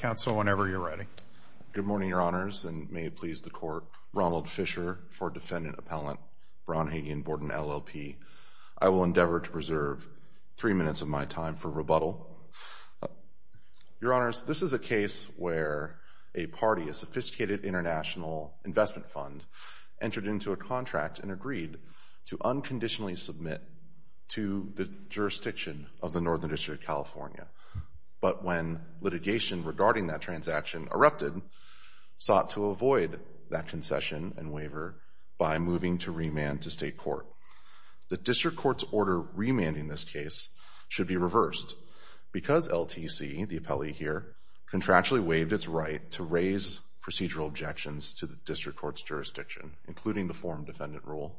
Good morning, Your Honors, and may it please the Court, Ronald Fisher for Defendant Appellant BraunHagey & Borden LLP. I will endeavor to preserve three minutes of my time for rebuttal. Your Honors, this is a case where a party, a sophisticated international investment fund, entered into a contract and agreed to unconditionally submit to the jurisdiction of the Northern Carolina District Court. However, the court, regarding that transaction, erupted, sought to avoid that concession and waiver by moving to remand to State Court. The District Court's order remanding this case should be reversed because LTC, the appellee here, contractually waived its right to raise procedural objections to the District Court's jurisdiction, including the form defendant rule,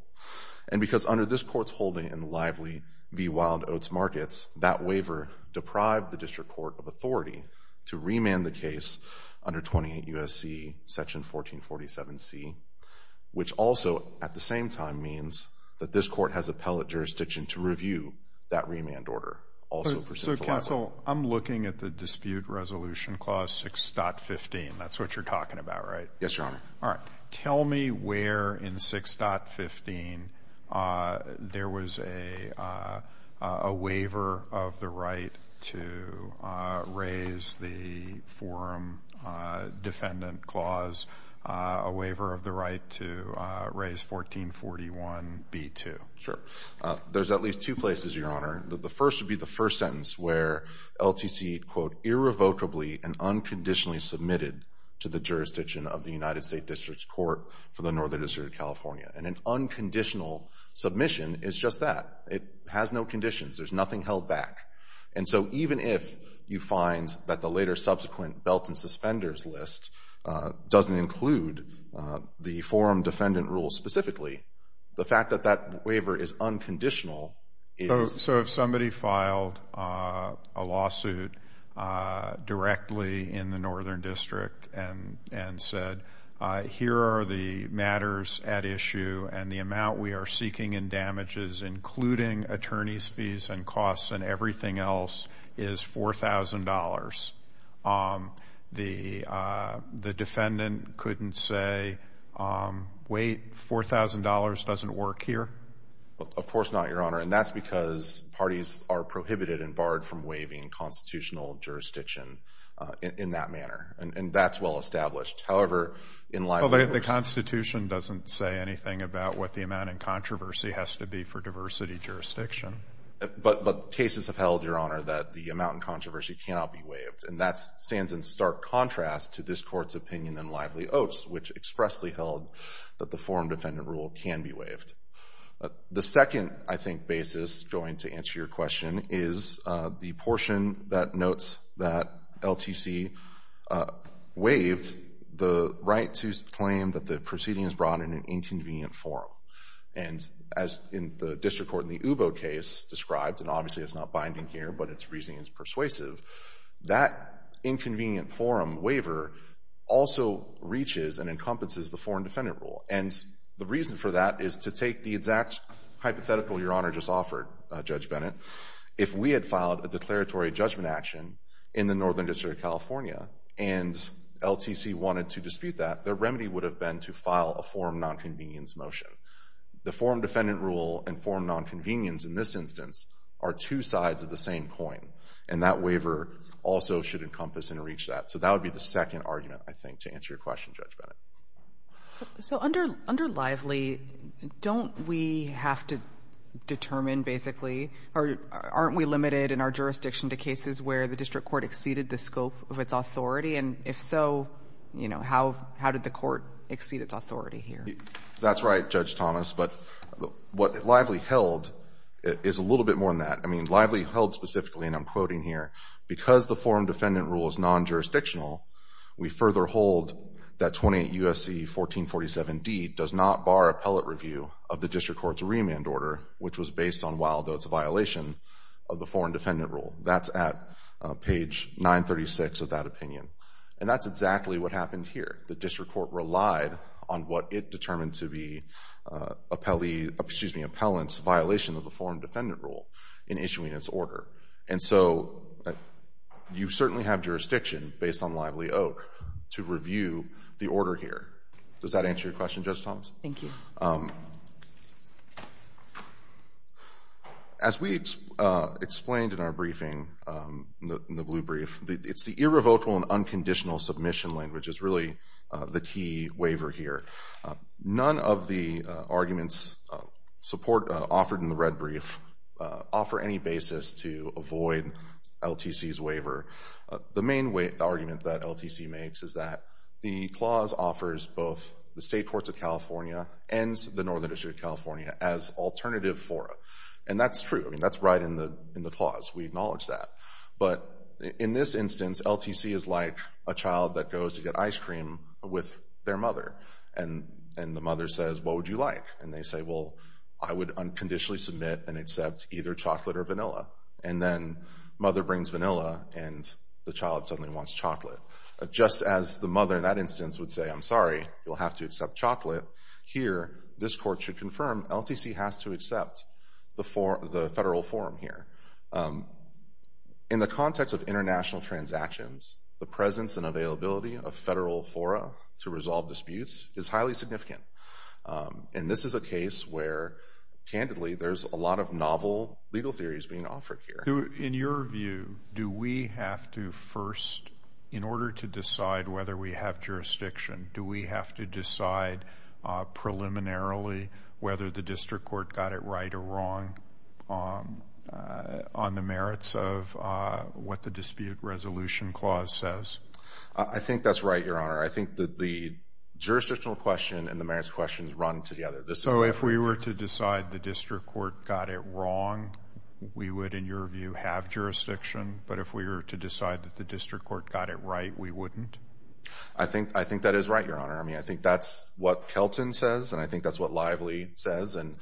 and because under this Court's holding in the lively v. Wild under 28 U.S.C. Section 1447C, which also at the same time means that this Court has appellate jurisdiction to review that remand order, also pursuant to the law. So, counsel, I'm looking at the dispute resolution clause 6.15. That's what you're talking about, right? Yes, Your Honor. All right. Tell me where in 6.15 there was a waiver of the right to raise the forum defendant clause, a waiver of the right to raise 1441B2. Sure. There's at least two places, Your Honor. The first would be the first sentence where LTC, quote, irrevocably and unconditionally submitted to the jurisdiction of the United States District Court for the Northern District of California. And an unconditional submission is just that. It has no conditions. There's nothing held back. And so, even if you find that the later subsequent belt and suspenders list doesn't include the forum defendant rule specifically, the fact that that waiver is unconditional is... The defendant couldn't say, wait, $4,000 doesn't work here? Of course not, Your Honor. And that's because parties are prohibited and barred from waiving constitutional jurisdiction in that manner. And that's well-established. However, in Lively Oats... Well, the Constitution doesn't say anything about what the amount in controversy has to be for diversity jurisdiction. But cases have held, Your Honor, that the amount in controversy cannot be waived. And that stands in stark contrast to this Court's opinion in Lively Oats, which expressly held that the forum defendant rule can be waived. The second, I think, basis going to answer your question is the portion that notes that LTC waived the right to claim that the proceeding is brought in an inconvenient forum. And as in the District Court in the Ubo case described, and obviously it's not binding here, but its reasoning is persuasive, that inconvenient forum waiver also reaches and encompasses the forum defendant rule. And the reason for that is to take the exact hypothetical Your Honor just offered, Judge Bennett. If we had filed a declaratory judgment action in the Northern District of California and LTC wanted to dispute that, their remedy would have been to file a forum nonconvenience motion. The forum defendant rule and forum nonconvenience in this instance are two sides of the same coin. And that waiver also should encompass and reach that. So that would be the second argument, I think, to answer your question, Judge Bennett. So under Lively, don't we have to determine basically, or aren't we limited in our jurisdiction to cases where the District Court exceeded the scope of its authority? And if so, you know, how did the Court exceed its authority here? That's right, Judge Thomas. But what Lively held is a little bit more than that. I mean, Lively held specifically, and I'm quoting here, because the forum defendant rule is that 28 U.S.C. 1447d does not bar appellate review of the District Court's remand order, which was based on Wildo's violation of the forum defendant rule. That's at page 936 of that opinion. And that's exactly what happened here. The District Court relied on what it determined to be appellee, excuse me, appellant's violation of the forum defendant rule in issuing its order. And so you certainly have jurisdiction, based on Lively-Oak, to review the order here. Does that answer your question, Judge Thomas? Thank you. As we explained in our briefing, in the blue brief, it's the irrevocable and unconditional submission language that's really the key waiver here. None of the arguments offered in the red brief offer any basis to avoid LTC's waiver. The main argument that LTC makes is that the clause offers both the State Courts of California and the Northern District of California as alternative fora. And that's true. I mean, that's right in the clause. We acknowledge that. But in this instance, LTC is like a child that goes to get ice cream with their mother. And the mother says, what would you like? And they say, well, I would unconditionally submit and accept either chocolate or vanilla. And then mother brings vanilla and the child suddenly wants chocolate. Just as the mother in that instance would say, I'm sorry, you'll have to accept chocolate, here, this court should confirm LTC has to accept the federal forum here. In the context of international transactions, the presence and availability of federal fora to resolve disputes is highly significant. And this is a case where, candidly, there's a lot of novel legal theories being offered here. In your view, do we have to first, in order to decide whether we have jurisdiction, do we have to decide preliminarily whether the district court got it right or wrong on the merits of what the dispute resolution clause says? I think that's right, Your Honor. I think that the jurisdictional question and the merits questions run together. So if we were to decide the district court got it wrong, we would, in your view, have jurisdiction. But if we were to decide that the district court got it right, we wouldn't? I think that is right, Your Honor. I mean, I think that's what Kelton says, and I think that's what Lively says. And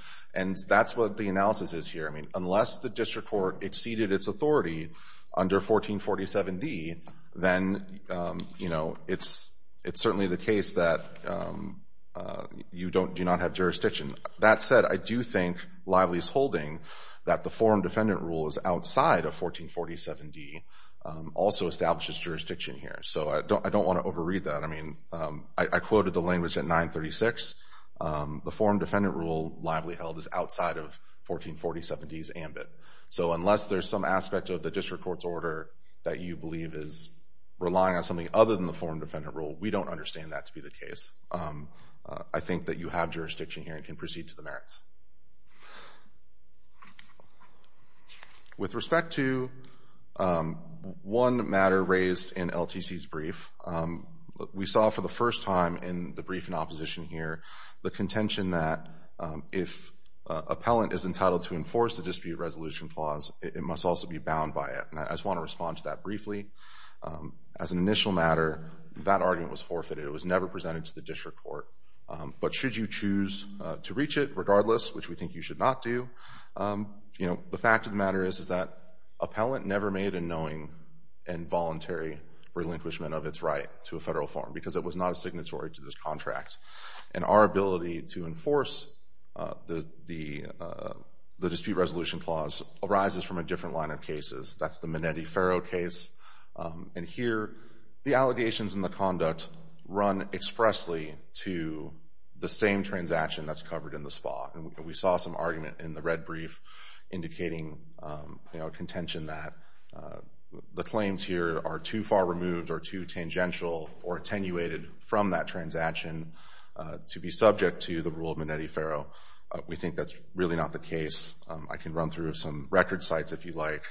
that's what the analysis is here. I mean, unless the district court exceeded its authority under 1447D, then it's certainly the case that you do not have jurisdiction. That said, I do think Lively's holding that the forum defendant rule is outside of 1447D, also establishes jurisdiction here. So I don't want to overread that. I mean, I quoted the language at 936. The forum defendant rule, Lively held, is outside of 1447D's ambit. So unless there's some aspect of the district court's order that you believe is relying on something other than the forum defendant rule, we don't understand that to be the case. I think that you have jurisdiction here and can proceed to the merits. With respect to one matter raised in LTC's brief, we saw for the first time in the briefing and opposition here the contention that if an appellant is entitled to enforce the dispute resolution clause, it must also be bound by it. And I just want to respond to that briefly. As an initial matter, that argument was forfeited. It was never presented to the district court. But should you choose to reach it regardless, which we think you should not do, you know, the fact of the matter is that appellant never made a knowing and voluntary relinquishment of its right to a federal forum because it was not a signatory to this contract. And our ability to enforce the dispute resolution clause arises from a different line of cases. That's the Minetti-Ferro case. And here, the allegations and the conduct run expressly to the same transaction that's covered in the SPAW. And we saw some argument in the or attenuated from that transaction to be subject to the rule of Minetti-Ferro. We think that's really not the case. I can run through some record sites if you like.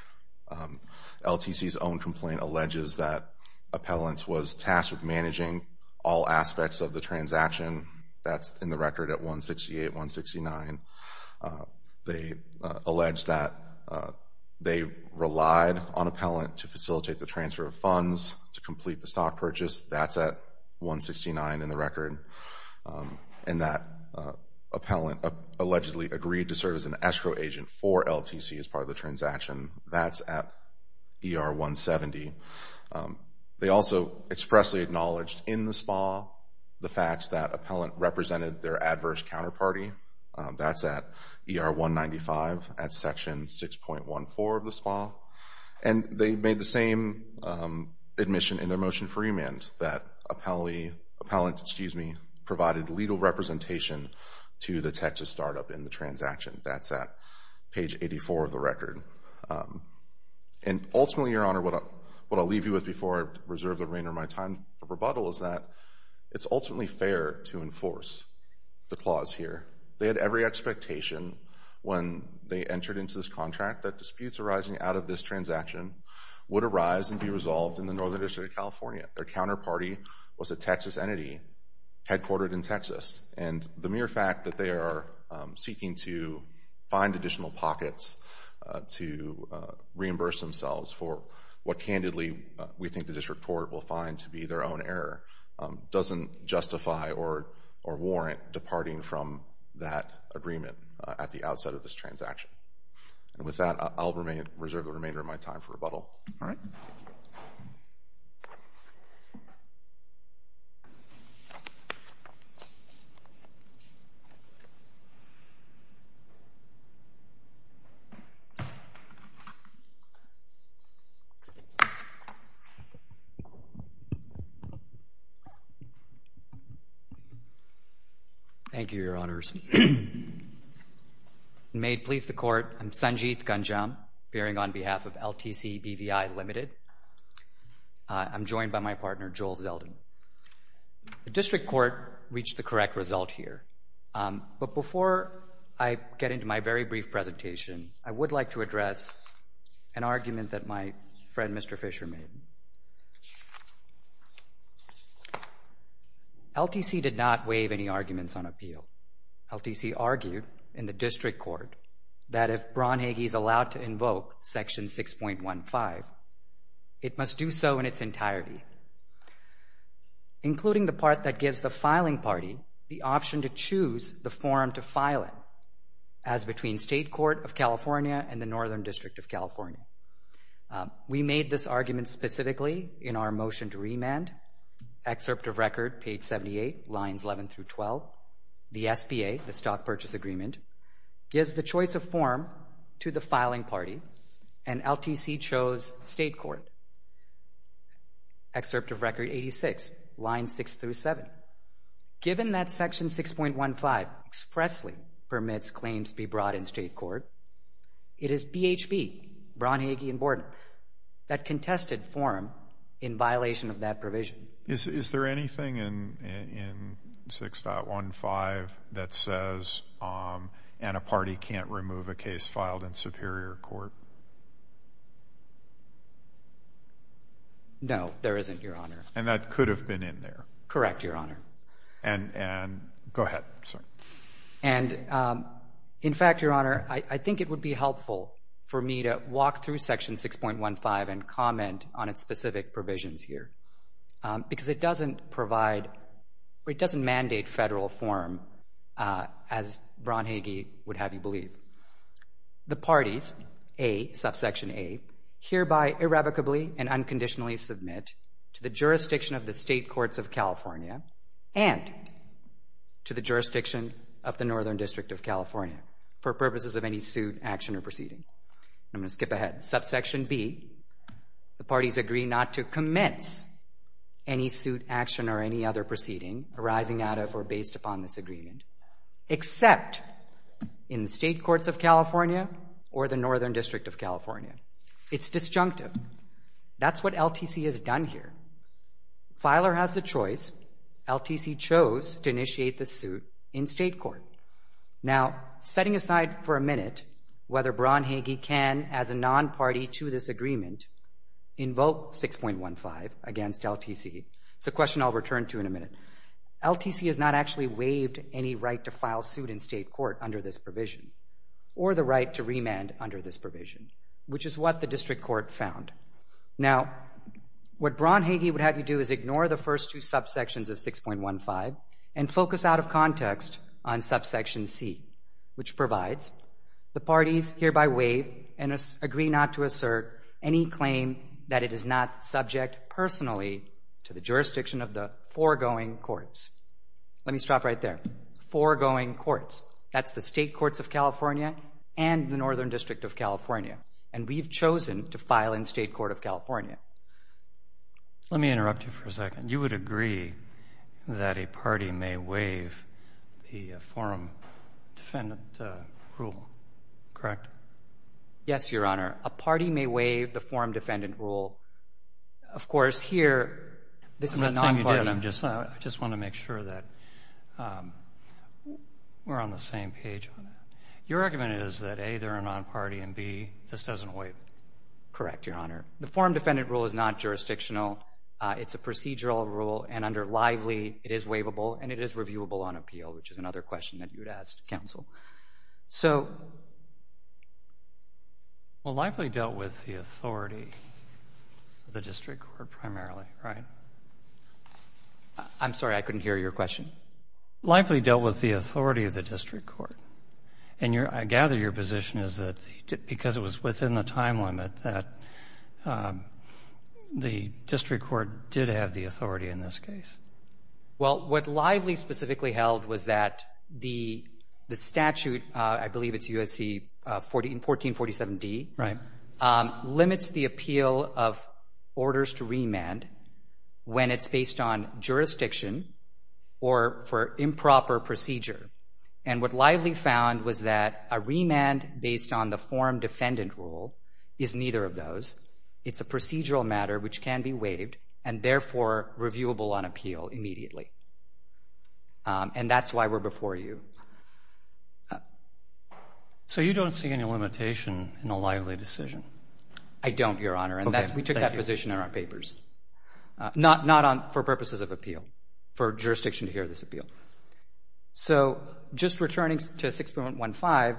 LTC's own complaint alleges that appellant was tasked with managing all aspects of the transaction. That's in the record at 168, 169. They allege that they relied on appellant to facilitate the transfer of funds to complete the stock purchase. That's at 169 in the record. And that appellant allegedly agreed to serve as an escrow agent for LTC as part of the transaction. That's at ER 170. They also expressly acknowledged in the SPAW the facts that appellant represented their adverse counterparty. That's at ER 195 at section 6.14 of the SPAW. And they made the same admission in their motion for remand that appellant provided legal representation to the Texas start-up in the transaction. That's at page 84 of the record. And ultimately, Your Honor, what I'll leave you with before I reserve the remainder of my time for rebuttal is that it's ultimately fair to enforce the clause here. They had every expectation when they entered into this contract that disputes arising out of this transaction would arise and be resolved in the Northern District of California. Their counterparty was a Texas entity headquartered in Texas. And the mere fact that they are seeking to find additional pockets to reimburse themselves for what candidly we think the district court will find to be their own error doesn't justify or warrant departing from that agreement at the outset of this transaction. And with that, I'll reserve the remainder of my time for rebuttal. All right. Thank you, Your Honors. May it please the Court, I'm Sanjit Ganjam, appearing on behalf of LTC BVI Limited. I'm joined by my partner, Joel Zeldin. The district court reached the correct result here. But before I get into my very brief presentation, I would like to address an argument that my friend, Mr. Fisher, made. LTC did not waive any arguments on appeal. LTC argued in the district court that if Braunhage is allowed to invoke Section 6.15, it must do so in its entirety, including the part that gives the filing party the option to choose the form to file it, as between State Court of California and the Northern District of California. We made this argument specifically in our motion to remand, excerpt of record, page 78, lines 11 through 12, the SBA, the Stock Purchase Agreement, gives the choice of form to the filing party, and LTC chose State Court, excerpt of record 86, lines 6 through 7. Given that Section 6.15 expressly permits claims to be brought in State Court, it is BHB, Braunhage and Borden, that contested form in violation of that provision. Is there anything in 6.15 that says, and a party can't remove a case filed in Superior Court? No, there isn't, Your Honor. And that could have been in there. Correct, Your Honor. And go ahead. In fact, Your Honor, I think it would be helpful for me to walk through Section 6.15 and comment on its specific provisions here, because it doesn't provide, it doesn't mandate federal form as Braunhage would have you believe. The parties, A, subsection A, hereby irrevocably and unconditionally submit to the jurisdiction of the State Courts of California and to the jurisdiction of the Northern District of California for purposes of any suit, action or proceeding. I'm going to skip ahead. Subsection B, the parties agree not to commence any suit, action or any other proceeding arising out of or based upon this agreement, except in the State Courts of California or the Northern District of California. It's disjunctive. That's what LTC has done here. Filer has the choice. LTC chose to initiate the suit in State Court. Now, setting aside for a minute whether Braunhage can, as a non-party to this agreement, invoke 6.15 against LTC, it's a question I'll return to in a minute. LTC has not actually waived any right to file suit in State Court under this provision or the right to remand under this provision, which is what the District Court found. Now, what Braunhage would have you do is ignore the first two subsections of 6.15 and focus out of context on subsection C, which provides the parties hereby waive and agree not to assert any claim that it is not subject personally to the jurisdiction of the foregoing courts. Let me stop right there. Foregoing courts, that's the State Courts of California and the Northern District of California, and we've chosen to file in State Court of California. Let me interrupt you for a second. You would agree that a party may waive the Forum Defendant Rule, correct? Yes, Your Honor. A party may waive the Forum Defendant Rule. Of course, here, this is a non-party. I'm not saying you didn't. I just want to make sure that we're on the same page on that. Your argument is that, A, they're a non-party, and, B, this doesn't waive. Correct, Your Honor. The Forum Defendant Rule is not jurisdictional. It's a procedural rule, and under Lively, it is waivable, and it is reviewable on appeal, which is another question that you would ask counsel. So… Well, Lively dealt with the authority of the district court primarily, right? I'm sorry. I couldn't hear your question. Lively dealt with the authority of the district court, and your — I gather your position is that, because it was within the time limit, that the district court did have the authority in this case. Well, what Lively specifically held was that the statute — I believe it's USC 1447D — limits the appeal of orders to remand when it's based on jurisdiction or for improper procedure. And what Lively found was that a remand based on the Forum Defendant Rule is neither of those. It's a procedural matter which can be waived and, therefore, reviewable on appeal immediately. And that's why we're before you. So you don't see any limitation in a Lively decision? I don't, Your Honor. Okay. Thank you. And we took that position in our papers. Not for purposes of appeal, for jurisdiction to hear this appeal. So, just returning to 6.15,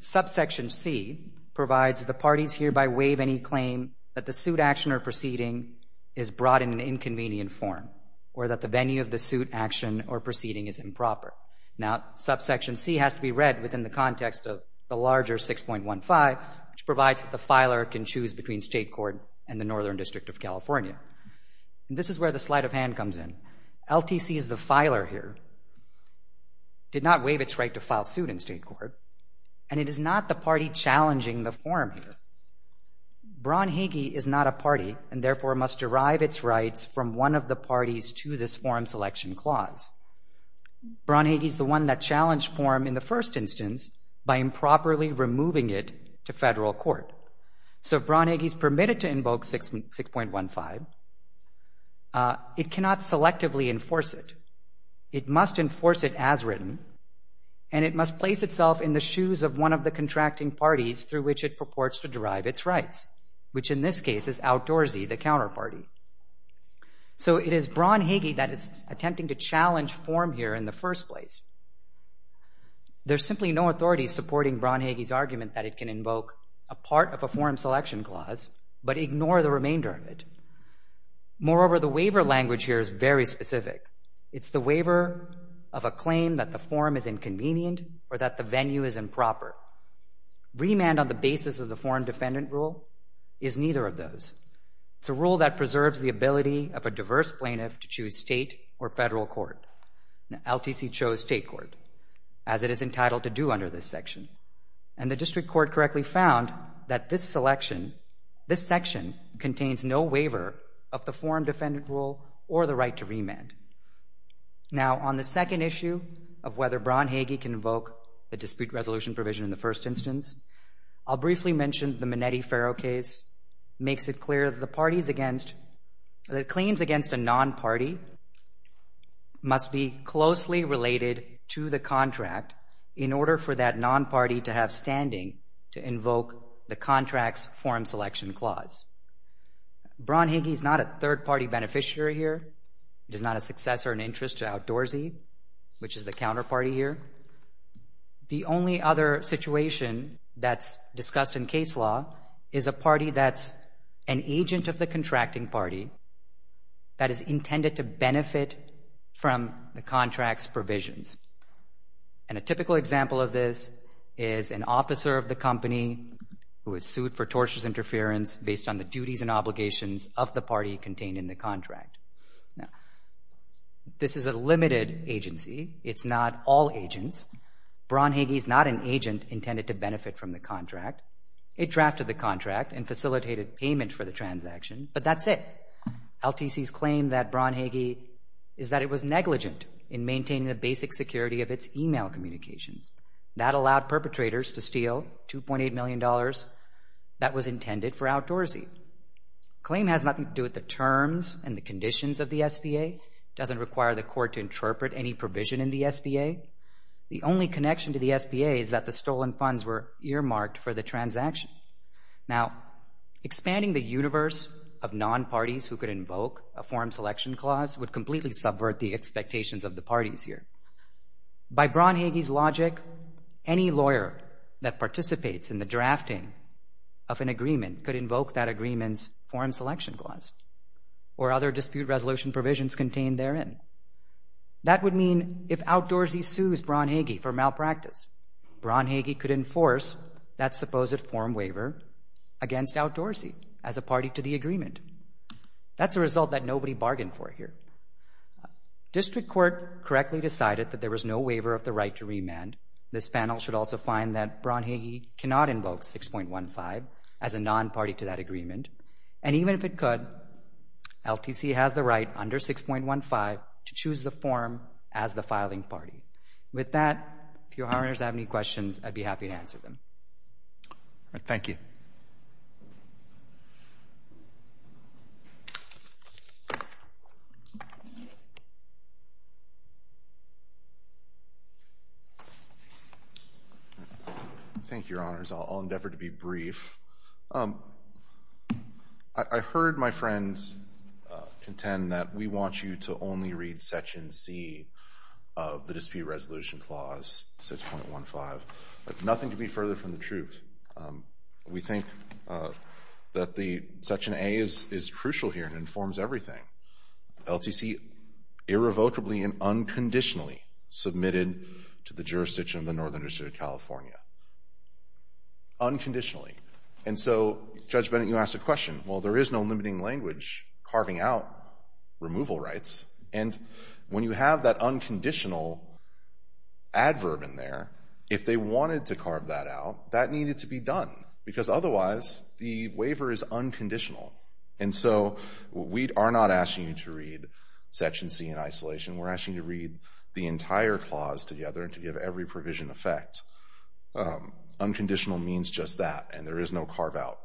subsection C provides the parties hereby waive any claim that the suit action or proceeding is brought in an inconvenient form or that the venue of the suit action or proceeding is improper. Now, subsection C has to be read within the context of the larger 6.15, which provides the filer can choose between state court and the Northern District of California. This is where the sleight of hand comes in. LTC is the filer here, did not waive its right to file suit in state court, and it is not the party challenging the form here. Braun Hagee is not a party and, therefore, must derive its rights from one of the parties to this form selection clause. Braun Hagee is the one that challenged form in the first instance by improperly removing it to federal court. So, if Braun Hagee is permitted to invoke 6.15, it cannot selectively enforce it. It must enforce it as written, and it must place itself in the shoes of one of the contracting parties through which it purports to derive its rights, which, in this case, is Al Dorsey, the counterparty. So it is Braun Hagee that is attempting to challenge form here in the first place. There is simply no authority supporting Braun Hagee's argument that it can invoke a part of a form selection clause but ignore the remainder of it. Moreover, the waiver language here is very specific. It's the waiver of a claim that the form is inconvenient or that the venue is improper. Remand on the basis of the foreign defendant rule is neither of those. It's a rule that preserves the ability of a diverse plaintiff to choose state or federal court. Now, LTC chose state court, as it is entitled to do under this section. And the district court correctly found that this selection, this section, contains no waiver of the foreign defendant rule or the right to remand. Now, on the second issue of whether Braun Hagee can invoke the dispute resolution provision in the first instance, I'll briefly mention the Minetti-Ferro case makes it clear that the claims against a non-party must be closely related to the contract in order for that non-party to have standing to invoke the contract's form selection clause. Braun Hagee is not a third-party beneficiary here. He is not a successor in interest to Outdoorsy, which is the counterparty here. The only other situation that's discussed in case law is a party that's an agent of the contracting party that is intended to benefit from the contract's provisions. And a typical example of this is an officer of the company who is sued for tortious interference based on the duties and obligations of the party contained in the contract. This is a limited agency. It's not all agents. Braun Hagee is not an agent intended to benefit from the contract. It drafted the contract and facilitated payment for the transaction, but that's it. LTC's claim that Braun Hagee is that it was negligent in maintaining the basic security of its email communications. That allowed perpetrators to steal $2.8 million that was intended for Outdoorsy. Claim has nothing to do with the terms and the conditions of the SBA. It doesn't require the court to interpret any provision in the SBA. The only connection to the SBA is that the stolen funds were earmarked for the transaction. Now, expanding the universe of non-parties who could invoke a form selection clause would completely subvert the expectations of the parties here. By Braun Hagee's logic, any lawyer that participates in the drafting of an agreement could invoke that agreement's form selection clause or other dispute resolution provisions contained therein. That would mean if Outdoorsy sues Braun Hagee for malpractice, Braun Hagee could enforce that supposed form waiver against Outdoorsy as a party to the agreement. That's a result that nobody bargained for here. District Court correctly decided that there was no waiver of the right to remand. This panel should also find that Braun Hagee cannot invoke 6.15 as a non-party to that to choose the form as the filing party. With that, if your Honors have any questions, I'd be happy to answer them. Thank you. Thank you, Your Honors, I'll endeavor to be brief. I heard my friends contend that we want you to only read Section C of the dispute resolution clause, 6.15, but nothing could be further from the truth. We think that the Section A is crucial here and informs everything. LTC irrevocably and unconditionally submitted to the jurisdiction of the Northern District of California, unconditionally. And so, Judge Bennett, you asked a question, well, there is no limiting language carving out removal rights, and when you have that unconditional adverb in there, if they wanted to carve that out, that needed to be done, because otherwise, the waiver is unconditional. And so, we are not asking you to read Section C in isolation, we're asking you to read the clause. Unconditional means just that, and there is no carve out.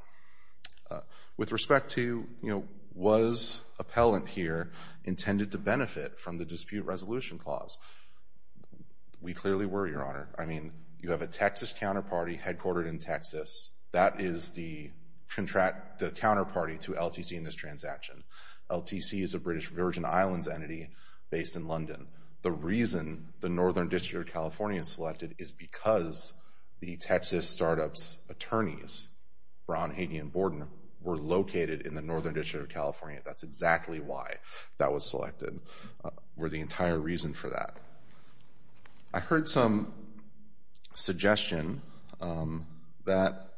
With respect to, you know, was appellant here intended to benefit from the dispute resolution clause? We clearly were, Your Honor. I mean, you have a Texas counterparty headquartered in Texas, that is the counterparty to LTC in this transaction. LTC is a British Virgin Islands entity based in London. The reason the Northern District of California is selected is because the Texas Startups attorneys, Brown, Hagee, and Borden, were located in the Northern District of California. That's exactly why that was selected, were the entire reason for that. I heard some suggestion that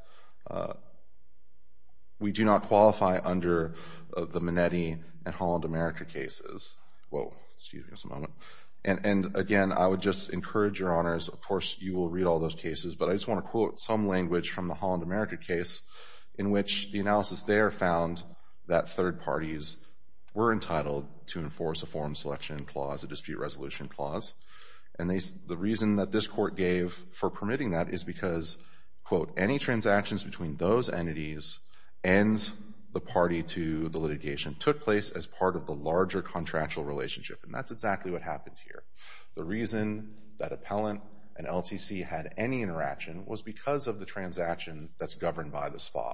we do not qualify under the Minetti and Holland America cases. Whoa, excuse me just a moment. And again, I would just encourage, Your Honors, of course, you will read all those cases, but I just want to quote some language from the Holland America case, in which the analysis there found that third parties were entitled to enforce a form selection clause, a dispute resolution clause. And the reason that this court gave for permitting that is because, quote, any transactions between those entities and the party to the litigation took place as part of the larger contractual relationship. And that's exactly what happened here. The reason that appellant and LTC had any interaction was because of the transaction that's governed by the SPA.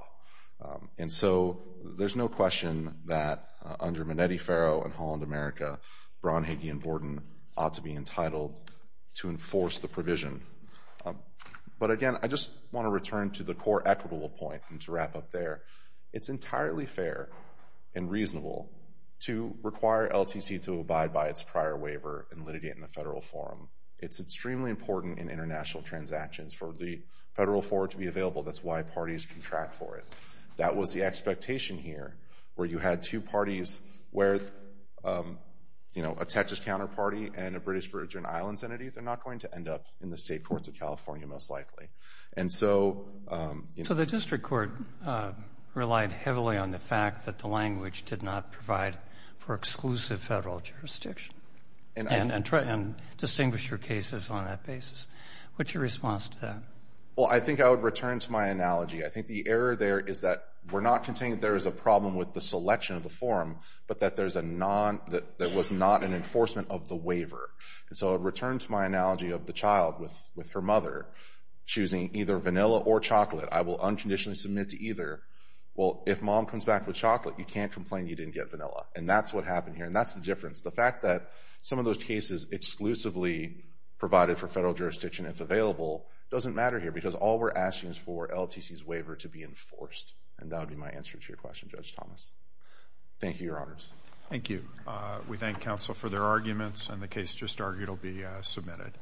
And so there's no question that under Minetti, Farrow, and Holland America, Brown, Hagee, and Borden ought to be entitled to enforce the provision. But again, I just want to return to the core equitable point and to wrap up there. It's entirely fair and reasonable to require LTC to abide by its prior waiver and litigate in the federal forum. It's extremely important in international transactions for the federal forum to be available. That's why parties contract for it. That was the expectation here, where you had two parties where, you know, a Texas counterparty and a British Virgin Islands entity, they're not going to end up in the state courts of California most likely. And so... So the district court relied heavily on the fact that the language did not provide for exclusive federal jurisdiction and distinguish your cases on that basis. What's your response to that? Well, I think I would return to my analogy. I think the error there is that we're not containing there is a problem with the selection of the forum, but that there was not an enforcement of the waiver. And so I would return to my analogy of the child with her mother choosing either vanilla or chocolate. I will unconditionally submit to either. Well, if mom comes back with chocolate, you can't complain you didn't get vanilla. And that's what happened here. And that's the difference. The fact that some of those cases exclusively provided for federal jurisdiction if available doesn't matter here, because all we're asking is for LTC's waiver to be enforced. And that would be my answer to your question, Judge Thomas. Thank you, Your Honors. Thank you. We thank counsel for their arguments and the case just argued will be submitted.